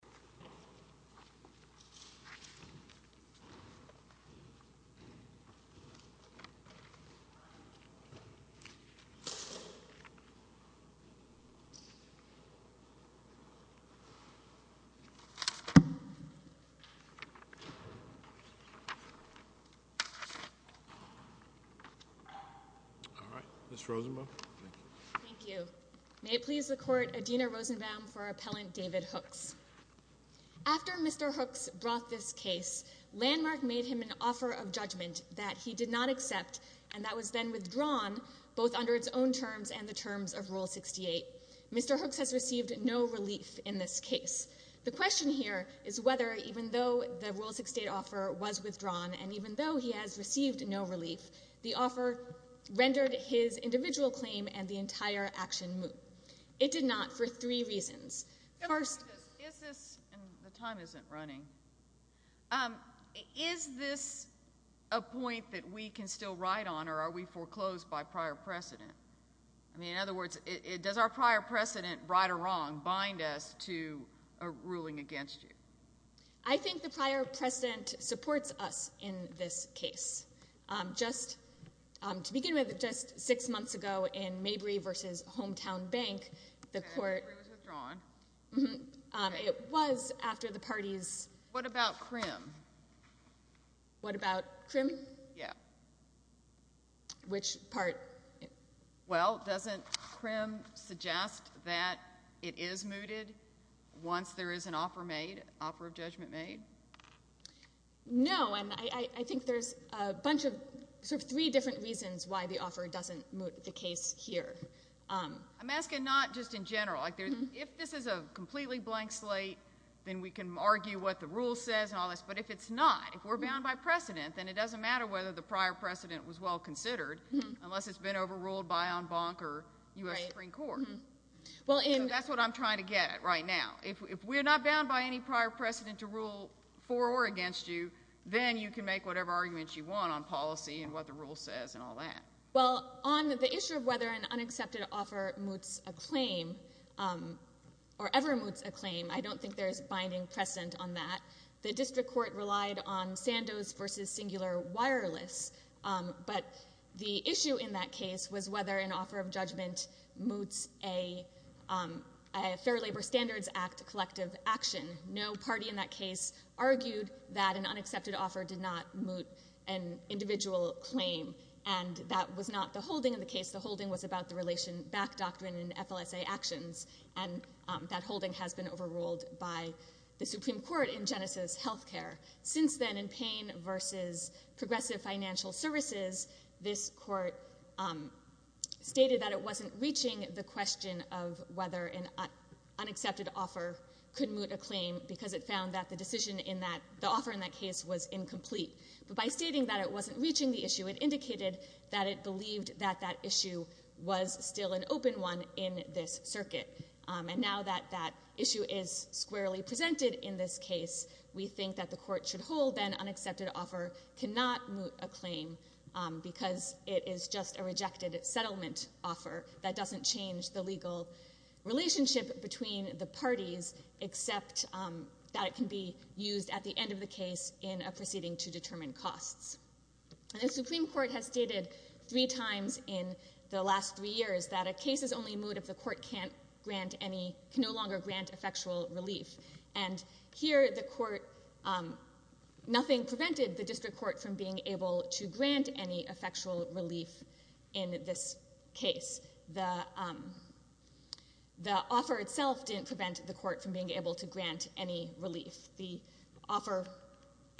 All right, Ms. Rosenbaum, thank you. Thank you. May it please the Court, Adina Rosenbaum for Appellant David Hooks. After Mr. Hooks brought this case, Landmark made him an offer of judgment that he did not accept, and that was then withdrawn, both under its own terms and the terms of Rule 68. Mr. Hooks has received no relief in this case. The question here is whether, even though the Rule 68 offer was withdrawn, and even though he has received no relief, the offer rendered his individual claim and the entire action moot. It did not for three reasons. First— The time isn't running. Is this a point that we can still ride on, or are we foreclosed by prior precedent? I mean, in other words, does our prior precedent, right or wrong, bind us to a ruling against you? I think the prior precedent supports us in this case. Just to begin with, just six months ago in Mabry v. Hometown Bank, the Court— Okay, Mabry was withdrawn. It was after the party's— What about Krim? What about Krim? Yeah. Which part? Well, doesn't Krim suggest that it is mooted once there is an offer made, offer of judgment made? No. And I think there's a bunch of sort of three different reasons why the offer doesn't moot the case here. I'm asking not just in general. If this is a completely blank slate, then we can argue what the rule says and all this. But if it's not, if we're bound by precedent, then it doesn't matter whether the prior precedent was well considered, unless it's been overruled by en banc or U.S. Supreme Court. So that's what I'm trying to get at right now. If we're not bound by any prior precedent to rule for or against you, then you can make whatever arguments you want on policy and what the rule says and all that. Well, on the issue of whether an unaccepted offer moots a claim or ever moots a claim, I don't think there's binding precedent on that. The district court relied on Sandoz v. Singular Wireless. But the issue in that case was whether an offer of judgment moots a Fair Labor Standards Act collective action. No party in that case argued that an unaccepted offer did not moot an individual claim. And that was not the holding of the case. The holding was about the Relation Back Doctrine and FLSA actions. And that holding has been overruled by the Supreme Court in Genesis Healthcare. Since then, in Payne v. Progressive Financial Services, this court stated that it wasn't reaching the question of whether an unaccepted offer could moot a claim because it found that the offer in that case was incomplete. But by stating that it wasn't reaching the issue, it indicated that it believed that that issue was still an open one in this circuit. And now that that issue is squarely presented in this case, we think that the court should hold that an unaccepted offer cannot moot a claim because it is just a rejected settlement offer that doesn't change the legal relationship between the parties, except that it can be used at the end of the case in a proceeding to determine costs. And the Supreme Court has stated three times in the last three years that a case is only moot if the court can no longer grant effectual relief. And here, nothing prevented the district court from being able to grant any effectual relief in this case. The offer itself didn't prevent the court from being able to grant any relief. The offer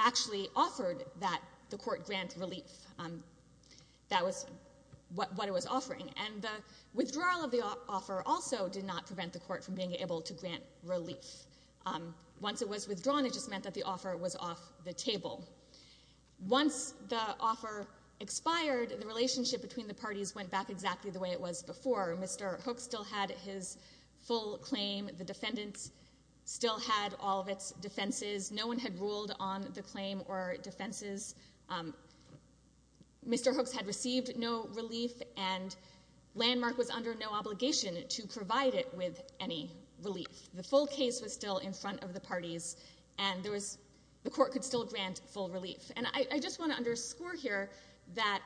actually offered that the court grant relief. That was what it was offering. And the withdrawal of the offer also did not prevent the court from being able to grant relief. Once it was withdrawn, it just meant that the offer was off the table. Once the offer expired, the relationship between the parties went back exactly the way it was before. Mr. Hooks still had his full claim. The defendants still had all of its defenses. No one had ruled on the claim or defenses. Mr. Hooks had received no relief, and Landmark was under no obligation to provide it with any relief. The full case was still in front of the parties, and the court could still grant full relief. And I just want to underscore here that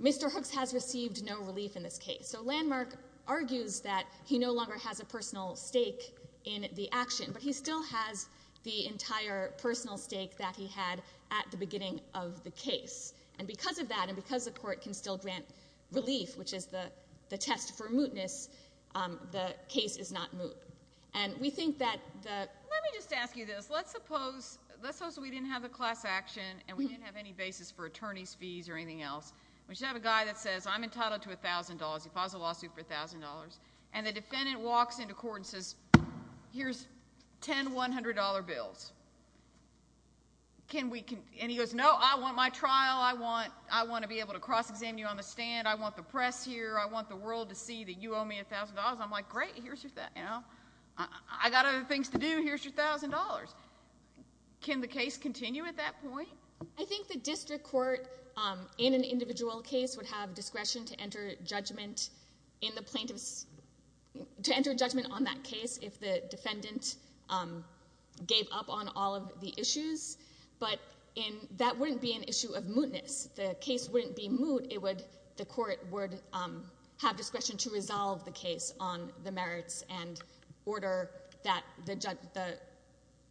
Mr. Hooks has received no relief in this case. So Landmark argues that he no longer has a personal stake in the action, but he still has the entire personal stake that he had at the beginning of the case. And because of that and because the court can still grant relief, which is the test for mootness, the case is not moot. Let me just ask you this. Let's suppose we didn't have the class action and we didn't have any basis for attorney's fees or anything else. We should have a guy that says, I'm entitled to $1,000. He files a lawsuit for $1,000. And the defendant walks into court and says, here's 10 $100 bills. And he goes, no, I want my trial. I want to be able to cross-examine you on the stand. I want the press here. I want the world to see that you owe me $1,000. I'm like, great. Here's your $1,000. I got other things to do. Here's your $1,000. Can the case continue at that point? I think the district court in an individual case would have discretion to enter judgment on that case if the defendant gave up on all of the issues. But that wouldn't be an issue of mootness. The case wouldn't be moot. The court would have discretion to resolve the case on the merits and order that the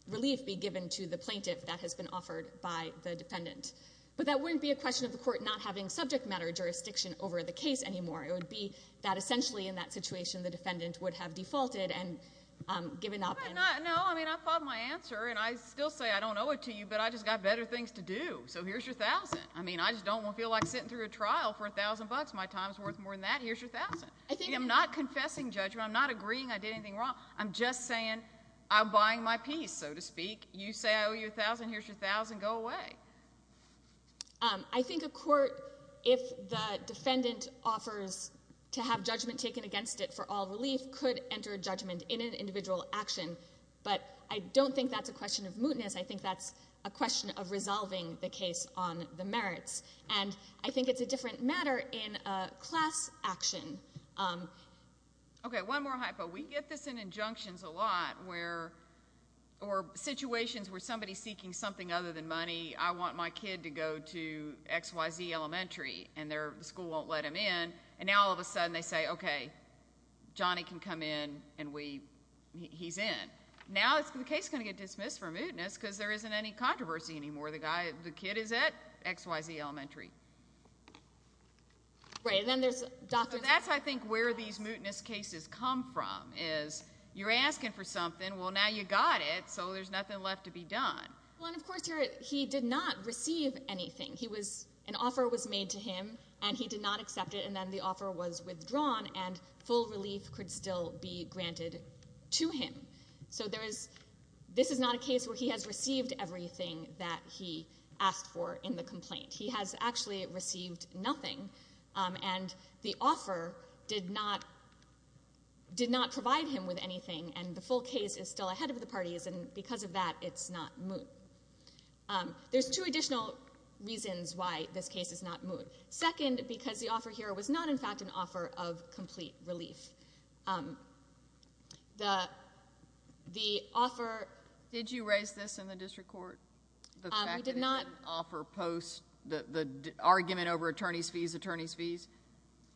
relief be given to the plaintiff that has been offered by the defendant. But that wouldn't be a question of the court not having subject matter jurisdiction over the case anymore. It would be that essentially in that situation the defendant would have defaulted and given up. No, I mean, I fought my answer. And I still say I don't owe it to you, but I just got better things to do. So here's your $1,000. I mean, I just don't feel like sitting through a trial for $1,000. My time is worth more than that. Here's your $1,000. I'm not confessing judgment. I'm not agreeing I did anything wrong. I'm just saying I'm buying my peace, so to speak. You say I owe you $1,000. Here's your $1,000. Go away. I think a court, if the defendant offers to have judgment taken against it for all relief, could enter judgment in an individual action. But I don't think that's a question of mootness. I think that's a question of resolving the case on the merits. And I think it's a different matter in a class action. Okay, one more hypo. We get this in injunctions a lot, or situations where somebody is seeking something other than money. I want my kid to go to XYZ Elementary, and the school won't let him in. And now all of a sudden they say, okay, Johnny can come in, and he's in. Now the case is going to get dismissed for mootness because there isn't any controversy anymore. The kid is at XYZ Elementary. Right, and then there's doctors. That's, I think, where these mootness cases come from is you're asking for something. Well, now you got it, so there's nothing left to be done. Well, and, of course, he did not receive anything. An offer was made to him, and he did not accept it. And then the offer was withdrawn, and full relief could still be granted to him. So this is not a case where he has received everything that he asked for in the complaint. He has actually received nothing, and the offer did not provide him with anything, and the full case is still ahead of the parties, and because of that it's not moot. There's two additional reasons why this case is not moot. Second, because the offer here was not, in fact, an offer of complete relief. The offer— Did you raise this in the district court? The fact that it's an offer post the argument over attorney's fees, attorney's fees?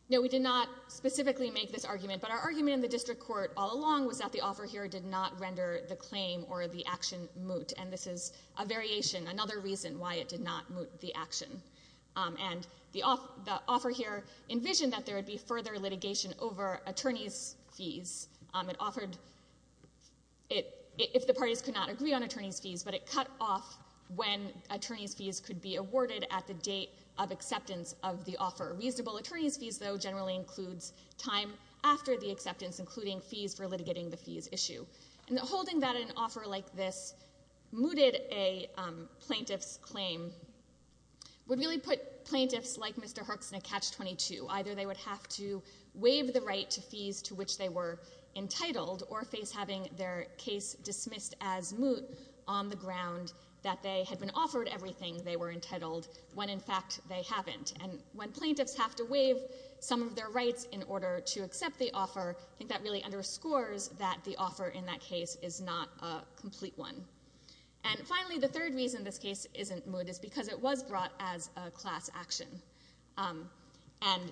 No, we did not specifically make this argument, but our argument in the district court all along was that the offer here did not render the claim or the action moot, and this is a variation, another reason why it did not moot the action. And the offer here envisioned that there would be further litigation over attorney's fees. It offered—if the parties could not agree on attorney's fees, but it cut off when attorney's fees could be awarded at the date of acceptance of the offer. Reasonable attorney's fees, though, generally includes time after the acceptance, including fees for litigating the fees issue. And holding that in an offer like this mooted a plaintiff's claim would really put plaintiffs like Mr. Herx in a catch-22. Either they would have to waive the right to fees to which they were entitled or face having their case dismissed as moot on the ground that they had been offered everything they were entitled, when, in fact, they haven't. And when plaintiffs have to waive some of their rights in order to accept the offer, I think that really underscores that the offer in that case is not a complete one. And finally, the third reason this case isn't moot is because it was brought as a class action. And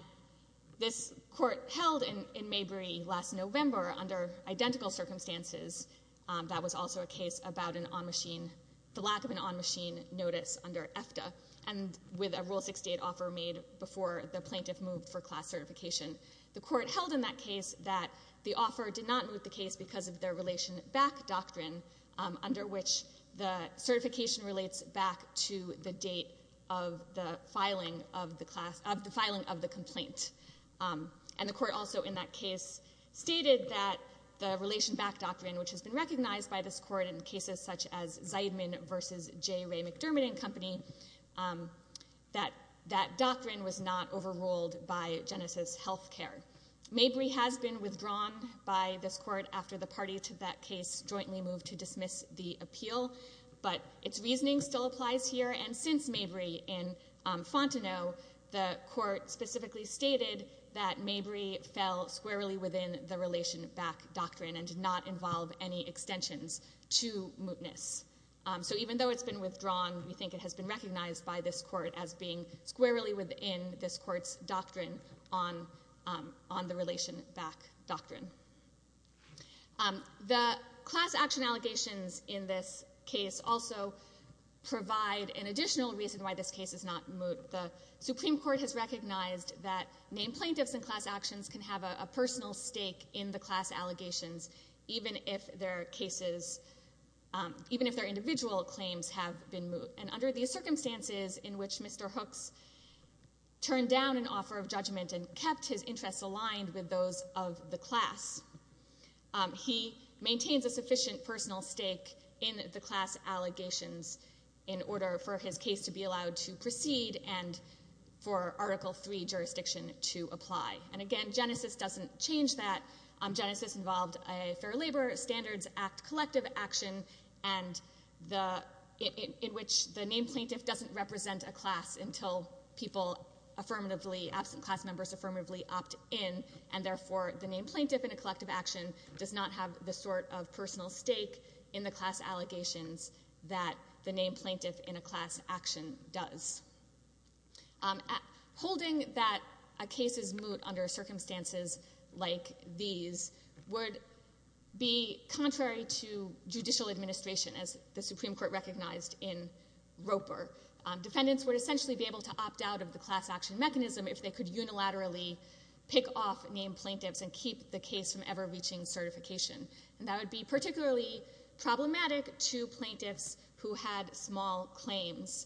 this court held in Maybury last November under identical circumstances. That was also a case about an on-machine—the lack of an on-machine notice under EFTA, and with a Rule 68 offer made before the plaintiff moved for class certification. The court held in that case that the offer did not moot the case because of their relation-back doctrine, under which the certification relates back to the date of the filing of the complaint. And the court also in that case stated that the relation-back doctrine, which has been recognized by this court in cases such as Zeidman v. J. Ray McDermott & Company, that that doctrine was not overruled by Genesis Healthcare. Maybury has been withdrawn by this court after the party to that case jointly moved to dismiss the appeal, but its reasoning still applies here. And since Maybury in Fontenot, the court specifically stated that Maybury fell squarely within the relation-back doctrine and did not involve any extensions to mootness. So even though it's been withdrawn, we think it has been recognized by this court as being squarely within this court's doctrine on the relation-back doctrine. The class action allegations in this case also provide an additional reason why this case is not moot. The Supreme Court has recognized that named plaintiffs in class actions can have a personal stake in the class allegations, even if their individual claims have been moot. And under the circumstances in which Mr. Hooks turned down an offer of judgment and kept his interests aligned with those of the class, he maintains a sufficient personal stake in the class allegations in order for his case to be allowed to proceed and for Article III jurisdiction to apply. And again, Genesis doesn't change that. Genesis involved a Fair Labor Standards Act collective action in which the named plaintiff doesn't represent a class until absent class members affirmatively opt in, and therefore the named plaintiff in a collective action does not have the sort of personal stake in the class allegations that the named plaintiff in a class action does. Holding that a case is moot under circumstances like these would be contrary to judicial administration, as the Supreme Court recognized in Roper. Defendants would essentially be able to opt out of the class action mechanism if they could unilaterally pick off named plaintiffs and keep the case from ever reaching certification. And that would be particularly problematic to plaintiffs who had small claims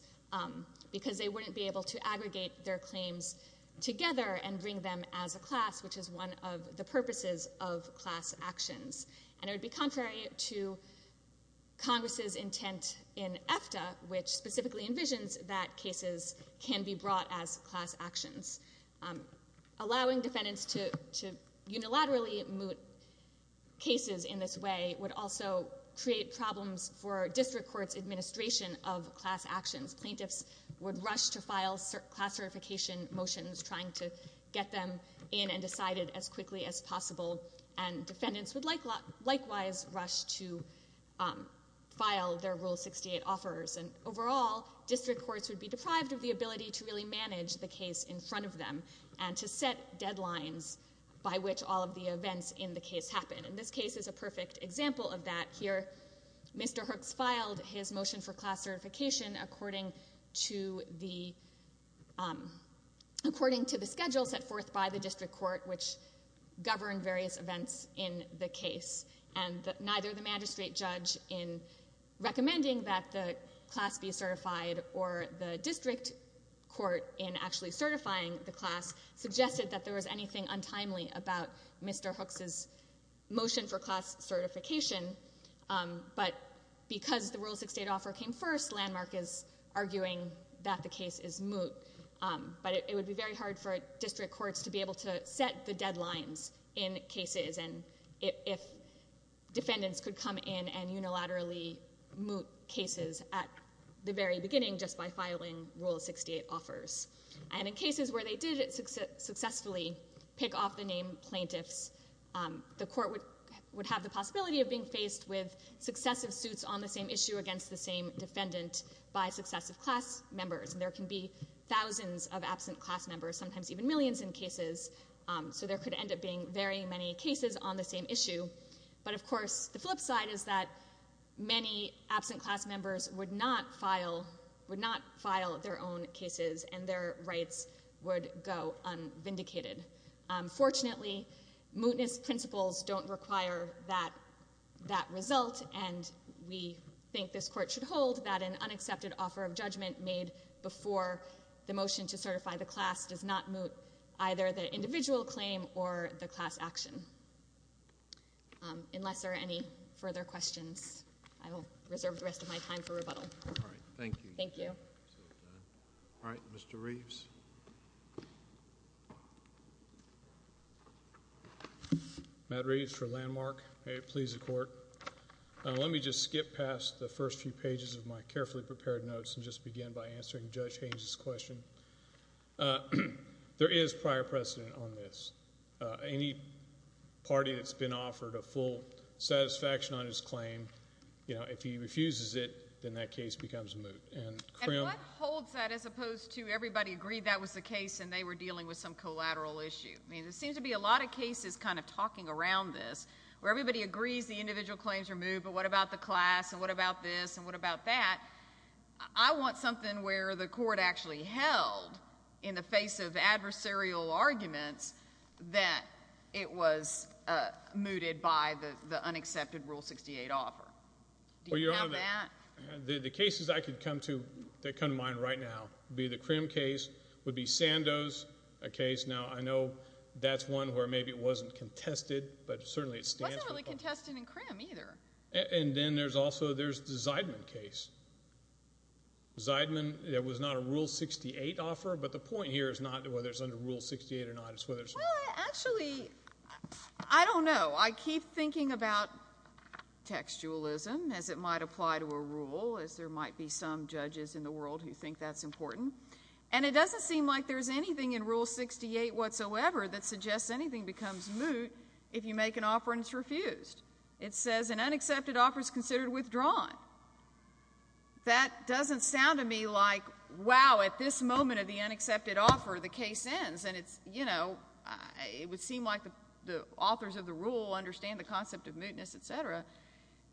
because they wouldn't be able to aggregate their claims together and bring them as a class, which is one of the purposes of class actions. And it would be contrary to Congress's intent in EFTA, which specifically envisions that cases can be brought as class actions. Allowing defendants to unilaterally moot cases in this way would also create problems for district courts' administration of class actions. Plaintiffs would rush to file class certification motions, trying to get them in and decided as quickly as possible, and defendants would likewise rush to file their Rule 68 offers. And overall, district courts would be deprived of the ability to really manage the case in front of them and to set deadlines by which all of the events in the case happen. And this case is a perfect example of that. Here, Mr. Hooks filed his motion for class certification according to the schedule set forth by the district court, which governed various events in the case. And neither the magistrate judge in recommending that the class be certified or the district court in actually certifying the class filed the motion for class certification, but because the Rule 68 offer came first, Landmark is arguing that the case is moot. But it would be very hard for district courts to be able to set the deadlines in cases if defendants could come in and unilaterally moot cases at the very beginning just by filing Rule 68 offers. And in cases where they did successfully pick off the named plaintiffs, the court would have the possibility of being faced with successive suits on the same issue against the same defendant by successive class members. And there can be thousands of absent class members, sometimes even millions in cases, so there could end up being very many cases on the same issue. But, of course, the flip side is that many absent class members would not file their own cases and their rights would go unvindicated. Fortunately, mootness principles don't require that result, and we think this Court should hold that an unaccepted offer of judgment made before the motion to certify the class does not moot either the individual claim or the class action. Unless there are any further questions, I will reserve the rest of my time for rebuttal. All right. Thank you. Thank you. All right. Mr. Reeves. Matt Reeves for Landmark. May it please the Court. Let me just skip past the first few pages of my carefully prepared notes and just begin by answering Judge Haynes's question. There is prior precedent on this. Any party that's been offered a full satisfaction on his claim, if he refuses it, then that case becomes moot. And what holds that as opposed to everybody agreed that was the case and they were dealing with some collateral issue? I mean, there seems to be a lot of cases kind of talking around this where everybody agrees the individual claims are moot, but what about the class and what about this and what about that? I want something where the Court actually held in the face of adversarial arguments that it was mooted by the unaccepted Rule 68 offer. Do you have that? The cases I could come to that come to mind right now would be the Krim case, would be Sandoz, a case. Now, I know that's one where maybe it wasn't contested, but certainly it stands. It wasn't really contested in Krim either. And then there's also the Zeidman case. Zeidman, it was not a Rule 68 offer, but the point here is not whether it's under Rule 68 or not. Well, actually, I don't know. I keep thinking about textualism as it might apply to a rule, as there might be some judges in the world who think that's important, and it doesn't seem like there's anything in Rule 68 whatsoever that suggests anything becomes moot if you make an offer and it's refused. It says an unaccepted offer is considered withdrawn. That doesn't sound to me like, wow, at this moment of the unaccepted offer, the case ends, and, you know, it would seem like the authors of the rule understand the concept of mootness, et cetera,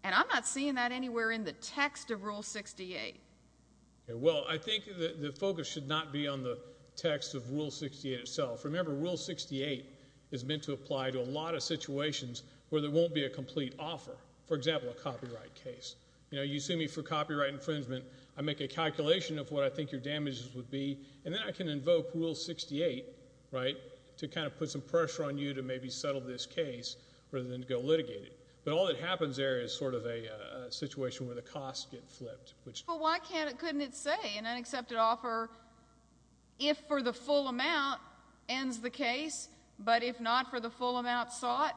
and I'm not seeing that anywhere in the text of Rule 68. Well, I think the focus should not be on the text of Rule 68 itself. Remember, Rule 68 is meant to apply to a lot of situations where there won't be a complete offer, for example, a copyright case. You know, you sue me for copyright infringement. I make a calculation of what I think your damages would be, and then I can invoke Rule 68, right, to kind of put some pressure on you to maybe settle this case rather than to go litigate it. But all that happens there is sort of a situation where the costs get flipped. Well, why couldn't it say an unaccepted offer if for the full amount ends the case, but if not for the full amount sought,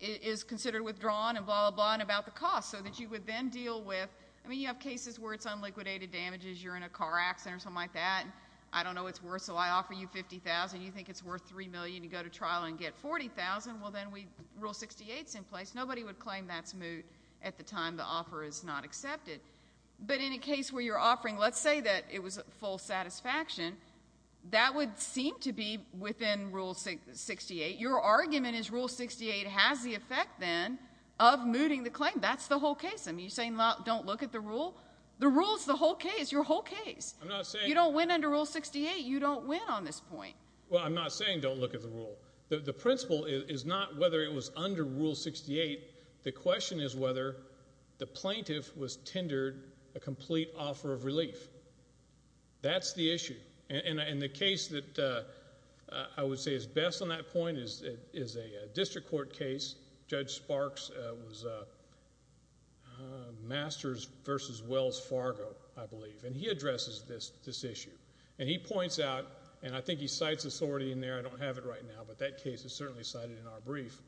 is considered withdrawn and blah, blah, blah, and about the cost, so that you would then deal with, I mean, you have cases where it's unliquidated damages, you're in a car accident or something like that, and I don't know what it's worth, so I offer you $50,000, you think it's worth $3 million, you go to trial and get $40,000, well, then Rule 68's in place. Nobody would claim that's moot at the time the offer is not accepted. But in a case where you're offering, let's say that it was full satisfaction, that would seem to be within Rule 68. Your argument is Rule 68 has the effect then of mooting the claim. That's the whole case. I mean, you're saying don't look at the rule? The rule's the whole case, your whole case. I'm not saying... You don't win under Rule 68, you don't win on this point. Well, I'm not saying don't look at the rule. The principle is not whether it was under Rule 68. The question is whether the plaintiff was tendered a complete offer of relief. That's the issue. And the case that I would say is best on that point is a district court case. Judge Sparks was Masters v. Wells Fargo, I believe, and he addresses this issue. And he points out, and I think he cites authority in there. I don't have it right now, but that case is certainly cited in our brief,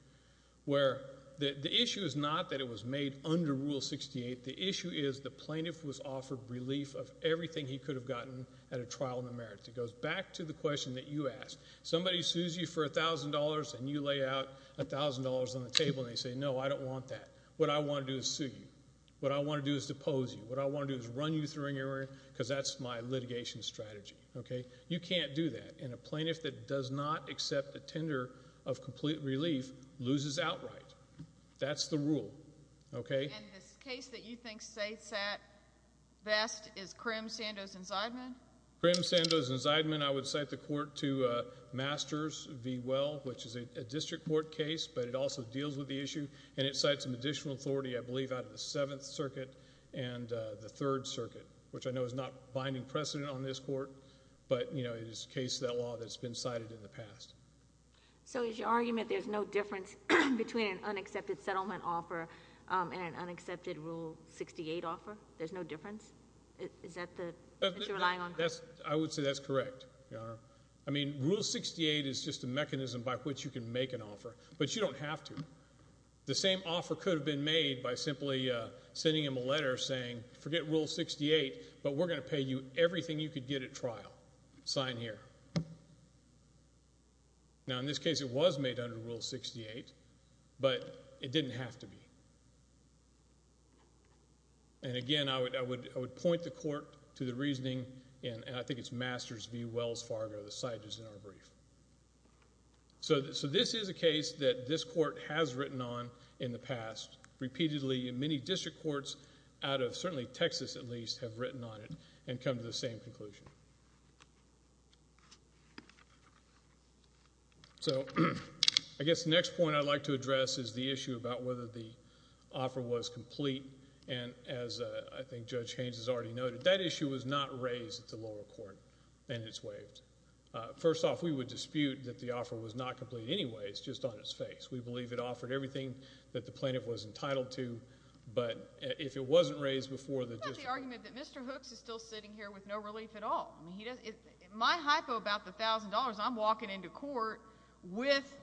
where the issue is not that it was made under Rule 68. The issue is the plaintiff was offered relief of everything he could have gotten at a trial in the merits. It goes back to the question that you asked. Somebody sues you for $1,000, and you lay out $1,000 on the table, and they say, No, I don't want that. What I want to do is sue you. What I want to do is depose you. What I want to do is run you through in your area, because that's my litigation strategy. You can't do that. And a plaintiff that does not accept a tender of complete relief loses outright. That's the rule. And this case that you think sits at best is Crim, Sandoz, and Zideman? Crim, Sandoz, and Zideman. I would cite the court to Masters v. Well, which is a district court case, but it also deals with the issue. And it cites some additional authority, I believe, out of the Seventh Circuit and the Third Circuit, which I know is not binding precedent on this court, but it is a case of that law that's been cited in the past. So is your argument there's no difference between an unaccepted settlement offer and an unaccepted Rule 68 offer? There's no difference? Is that what you're relying on? I would say that's correct, Your Honor. I mean, Rule 68 is just a mechanism by which you can make an offer, but you don't have to. The same offer could have been made by simply sending him a letter saying, forget Rule 68, but we're going to pay you everything you could get at trial. Sign here. Now, in this case, it was made under Rule 68, but it didn't have to be. And, again, I would point the court to the reasoning, and I think it's Masters v. Wells Fargo. The slide is in our brief. So this is a case that this court has written on in the past repeatedly, and many district courts out of certainly Texas, at least, have written on it and come to the same conclusion. So I guess the next point I'd like to address is the issue about whether the offer was complete. And as I think Judge Haynes has already noted, that issue was not raised at the lower court, and it's waived. First off, we would dispute that the offer was not complete anyways, just on its face. We believe it offered everything that the plaintiff was entitled to, but if it wasn't raised before the district court. It's not the argument that Mr. Hooks is still sitting here with no relief at all. My hypo about the $1,000, I'm walking into court with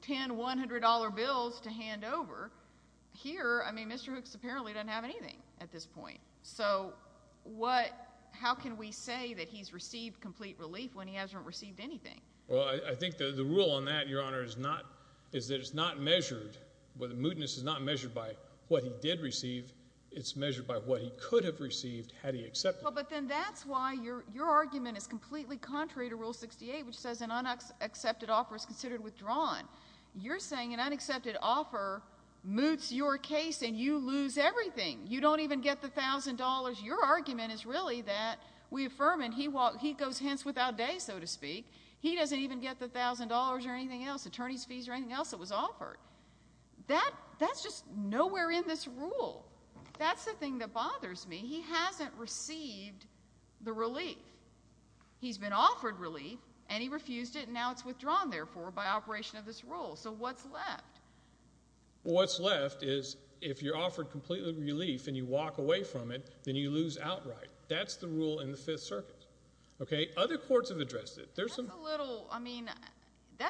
10 $100 bills to hand over, here, I mean, Mr. Hooks apparently doesn't have anything at this point. So how can we say that he's received complete relief when he hasn't received anything? Well, I think the rule on that, Your Honor, is that it's not measured. The mootness is not measured by what he did receive. It's measured by what he could have received had he accepted it. Well, but then that's why your argument is completely contrary to Rule 68, which says an unaccepted offer is considered withdrawn. You're saying an unaccepted offer moots your case and you lose everything. You don't even get the $1,000. Your argument is really that we affirm and he goes hence without day, so to speak. He doesn't even get the $1,000 or anything else, attorney's fees or anything else that was offered. That's just nowhere in this rule. That's the thing that bothers me. He hasn't received the relief. He's been offered relief, and he refused it, and now it's withdrawn, therefore, by operation of this rule. So what's left? What's left is if you're offered complete relief and you walk away from it, then you lose outright. That's the rule in the Fifth Circuit. Other courts have addressed it. That's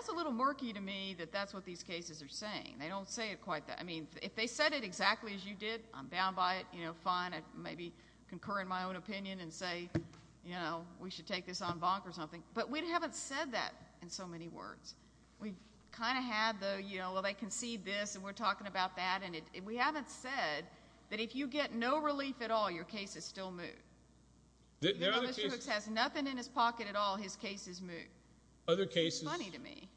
a little murky to me that that's what these cases are saying. They don't say it quite that way. If they said it exactly as you did, I'm down by it. Fine, I'd maybe concur in my own opinion and say we should take this on bonk or something. But we haven't said that in so many words. We've kind of had the, you know, well, they concede this, and we're talking about that, and we haven't said that if you get no relief at all, your case is still moot. Even though Mr. Hooks has nothing in his pocket at all, his case is moot. It's funny to me.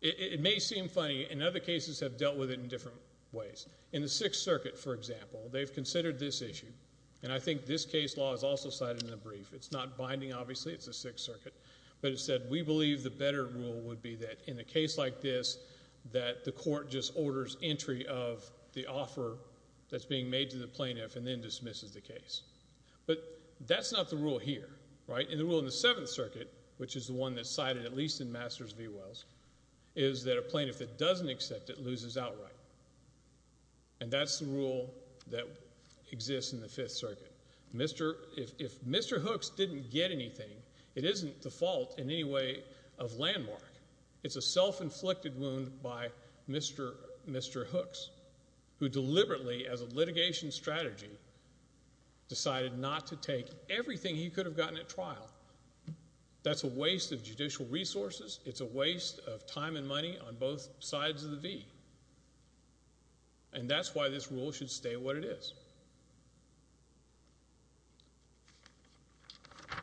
It may seem funny. And other cases have dealt with it in different ways. In the Sixth Circuit, for example, they've considered this issue, and I think this case law is also cited in the brief. It's not binding, obviously. It's the Sixth Circuit. But it said we believe the better rule would be that in a case like this that the court just orders entry of the offer that's being made to the plaintiff and then dismisses the case. But that's not the rule here, right? And the rule in the Seventh Circuit, which is the one that's cited at least in Masters v. Wells, is that a plaintiff that doesn't accept it loses outright. And that's the rule that exists in the Fifth Circuit. If Mr. Hooks didn't get anything, it isn't the fault in any way of Landmark. It's a self-inflicted wound by Mr. Hooks, who deliberately, as a litigation strategy, decided not to take everything he could have gotten at trial. That's a waste of judicial resources. It's a waste of time and money on both sides of the V. And that's why this rule should stay what it is.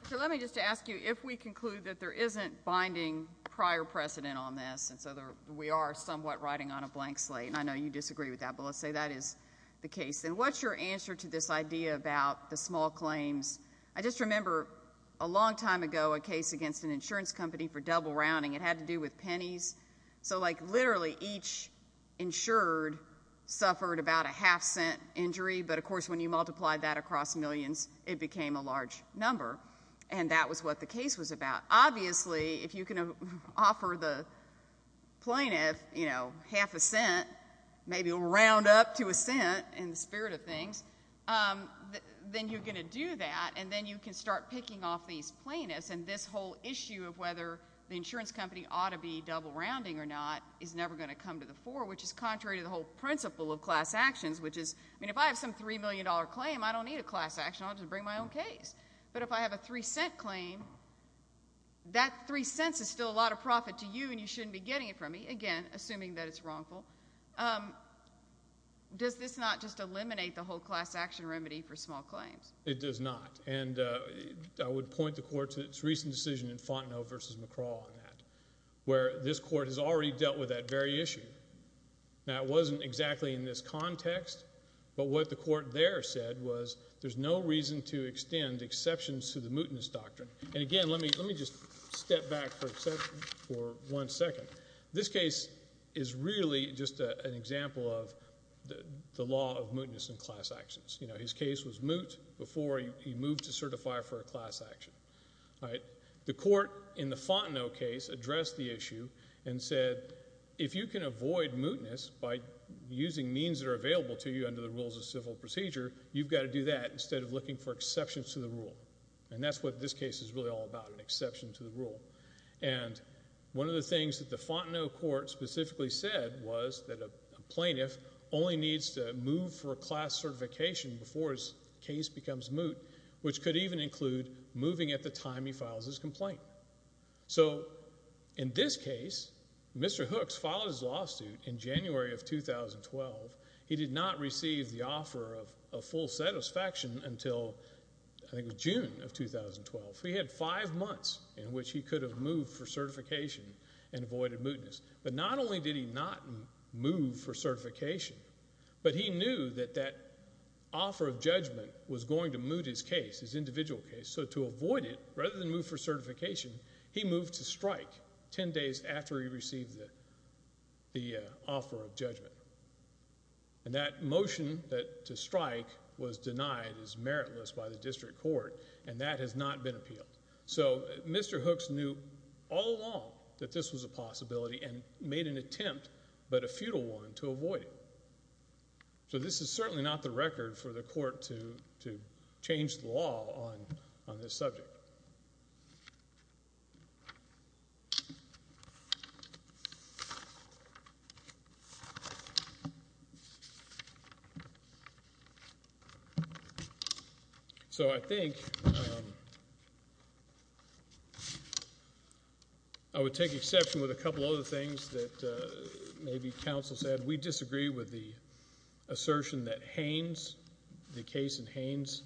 So let me just ask you if we conclude that there isn't binding prior precedent on this and so we are somewhat riding on a blank slate. And I know you disagree with that, but let's say that is the case. And what's your answer to this idea about the small claims? I just remember a long time ago a case against an insurance company for double rounding. It had to do with pennies. So, like, literally each insured suffered about a half-cent injury. But, of course, when you multiply that across millions, it became a large number. And that was what the case was about. Obviously, if you can offer the plaintiff, you know, half a cent, maybe round up to a cent in the spirit of things, then you're going to do that, and then you can start picking off these plaintiffs. And this whole issue of whether the insurance company ought to be double rounding or not is never going to come to the fore, which is contrary to the whole principle of class actions, which is, I mean, if I have some $3 million claim, I don't need a class action. I'll just bring my own case. But if I have a 3-cent claim, that 3 cents is still a lot of profit to you, and you shouldn't be getting it from me, again, assuming that it's wrongful. Does this not just eliminate the whole class action remedy for small claims? It does not. And I would point the court to its recent decision in Fontenot v. McCraw on that, where this court has already dealt with that very issue. Now, it wasn't exactly in this context, but what the court there said was there's no reason to extend exceptions to the mootness doctrine. And, again, let me just step back for one second. This case is really just an example of the law of mootness in class actions. You know, his case was moot before he moved to certify for a class action. The court in the Fontenot case addressed the issue and said, if you can avoid mootness by using means that are available to you under the rules of civil procedure, you've got to do that instead of looking for exceptions to the rule. And that's what this case is really all about, an exception to the rule. And one of the things that the Fontenot court specifically said was that a plaintiff only needs to move for a class certification before his case becomes moot, which could even include moving at the time he files his complaint. So in this case, Mr. Hooks filed his lawsuit in January of 2012. He did not receive the offer of full satisfaction until I think it was June of 2012. So he had five months in which he could have moved for certification and avoided mootness. But not only did he not move for certification, but he knew that that offer of judgment was going to moot his case, his individual case. So to avoid it, rather than move for certification, he moved to strike ten days after he received the offer of judgment. And that motion to strike was denied as meritless by the district court, and that has not been appealed. So Mr. Hooks knew all along that this was a possibility and made an attempt, but a futile one, to avoid it. So this is certainly not the record for the court to change the law on this subject. So I think I would take exception with a couple other things that maybe counsel said. We disagree with the assertion that Haynes, the case in Haynes,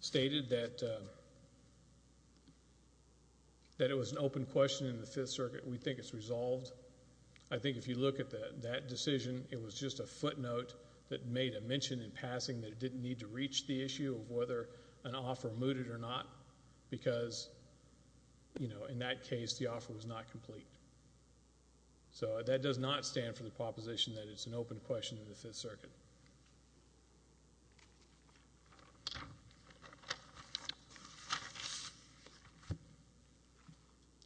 stated that it was an open question in the Fifth Circuit. We think it's resolved. I think if you look at that decision, it was just a footnote that made a mention in passing that it didn't need to reach the issue of whether an offer mooted or not because, you know, in that case, the offer was not complete. So that does not stand for the proposition that it's an open question in the Fifth Circuit.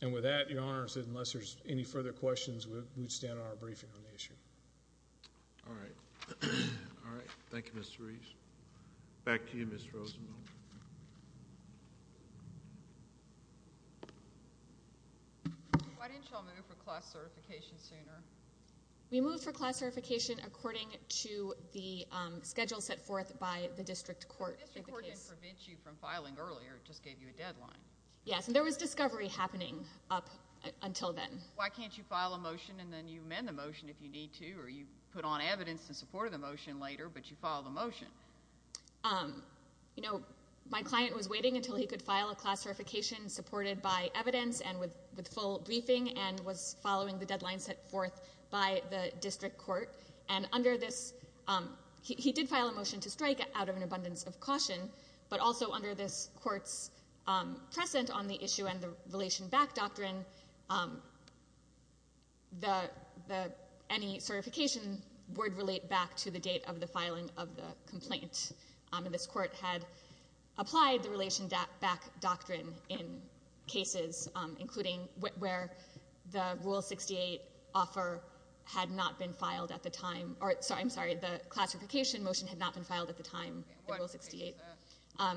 And with that, Your Honor, unless there's any further questions, we would stand on our briefing on the issue. All right. All right. Thank you, Mr. Reese. Back to you, Ms. Rosenbaum. Why didn't y'all move for class certification sooner? We moved for class certification according to the schedule set forth by the district court. The district court didn't prevent you from filing earlier. It just gave you a deadline. Yes, and there was discovery happening up until then. Why can't you file a motion and then you amend the motion if you need to or you put on evidence in support of the motion later but you file the motion? You know, my client was waiting until he could file a class certification supported by evidence and with full briefing and was following the deadline set forth by the district court. And under this, he did file a motion to strike out of an abundance of caution, but also under this court's present on the issue and the relation back doctrine, any certification would relate back to the date of the filing of the complaint. And this court had applied the relation back doctrine in cases, including where the Rule 68 offer had not been filed at the time. I'm sorry. The classification motion had not been filed at the time. The Rule 68.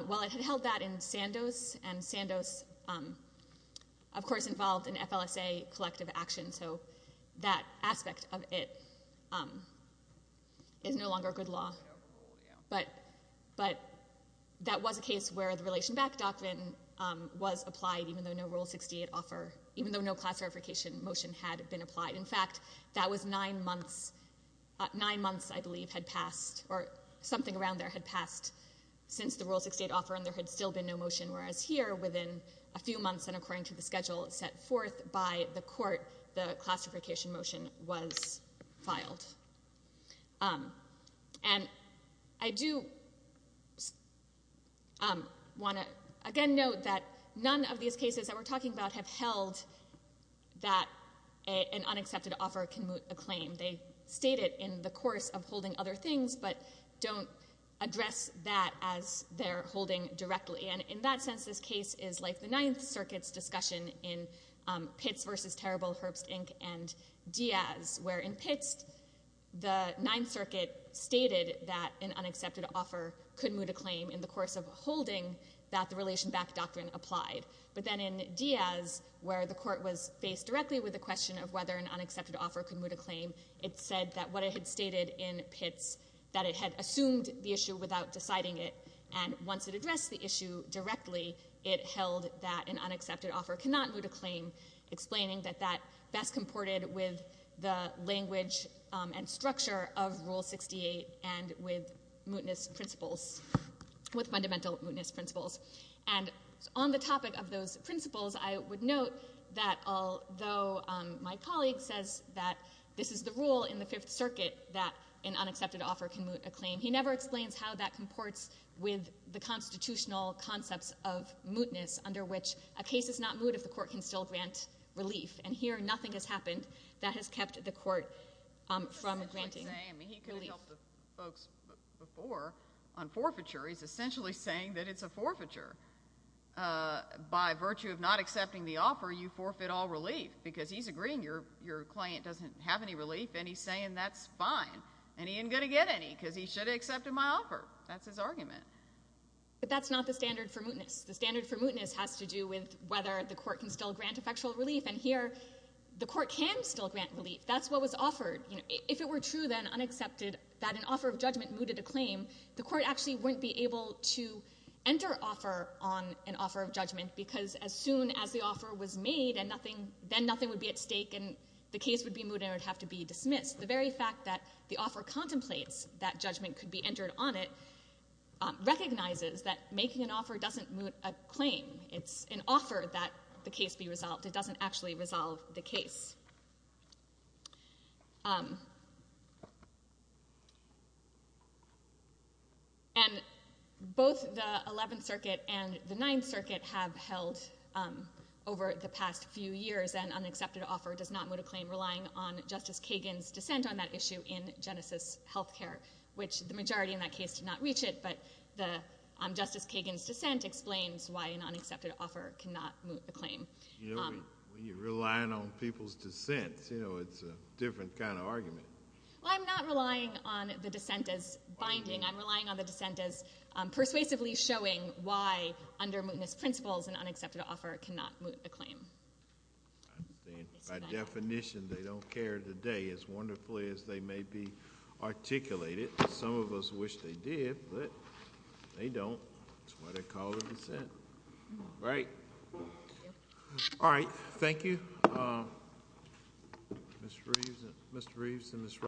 Well, it had held that in Sandoz, and Sandoz, of course, involved in FLSA collective action, so that aspect of it is no longer good law. But that was a case where the relation back doctrine was applied even though no Rule 68 offer, even though no class certification motion had been applied. In fact, that was nine months. Nine months, I believe, had passed or something around there had passed since the Rule 68 offer and there had still been no motion, whereas here, within a few months, and according to the schedule set forth by the court, the classification motion was filed. And I do want to, again, note that none of these cases that we're talking about have held that an unaccepted offer can moot a claim. They state it in the course of holding other things, but don't address that as their holding directly. And in that sense, this case is like the Ninth Circuit's discussion in Pitts v. Terrible, Herbst, Inc. and Diaz, where in Pitts, the Ninth Circuit stated that an unaccepted offer could moot a claim in the course of holding that the relation back doctrine applied. But then in Diaz, where the court was faced directly with the question of whether an unaccepted offer could moot a claim, it said that what it had stated in Pitts, that it had assumed the issue without deciding it, and once it addressed the issue directly, it held that an unaccepted offer cannot moot a claim, explaining that that best comported with the language and structure of Rule 68 and with mootness principles, with fundamental mootness principles. And on the topic of those principles, I would note that although my colleague says that this is the rule in the Fifth Circuit that an unaccepted offer can moot a claim, he never explains how that comports with the constitutional concepts of mootness, under which a case is not moot if the court can still grant relief. And here, nothing has happened that has kept the court from granting relief. He could have helped the folks before on forfeiture. He's essentially saying that it's a forfeiture. By virtue of not accepting the offer, you forfeit all relief, because he's agreeing your claim doesn't have any relief, and he's saying that's fine, and he ain't going to get any, because he should have accepted my offer. That's his argument. But that's not the standard for mootness. The standard for mootness has to do with whether the court can still grant effectual relief, and here, the court can still grant relief. That's what was offered. If it were true then, unaccepted, that an offer of judgment mooted a claim, the court actually wouldn't be able to enter offer on an offer of judgment, because as soon as the offer was made, then nothing would be at stake, and the case would be mooted, and it would have to be dismissed. The very fact that the offer contemplates that judgment could be entered on it recognizes that making an offer doesn't moot a claim. It's an offer that the case be resolved. It doesn't actually resolve the case. Both the Eleventh Circuit and the Ninth Circuit have held over the past few years that an unaccepted offer does not moot a claim relying on Justice Kagan's dissent on that issue in Genesis Healthcare, which the majority in that case did not reach it, but Justice Kagan's dissent explains why an unaccepted offer cannot moot a claim. When you're relying on people's dissents, it's a different kind of argument. I'm not relying on the dissent as binding. I'm relying on the dissent as persuasively showing why, under mootness principles, an unaccepted offer cannot moot a claim. By definition, they don't care today as wonderfully as they may be articulated. Some of us wish they did, but they don't. That's why they call it a dissent. All right. Thank you.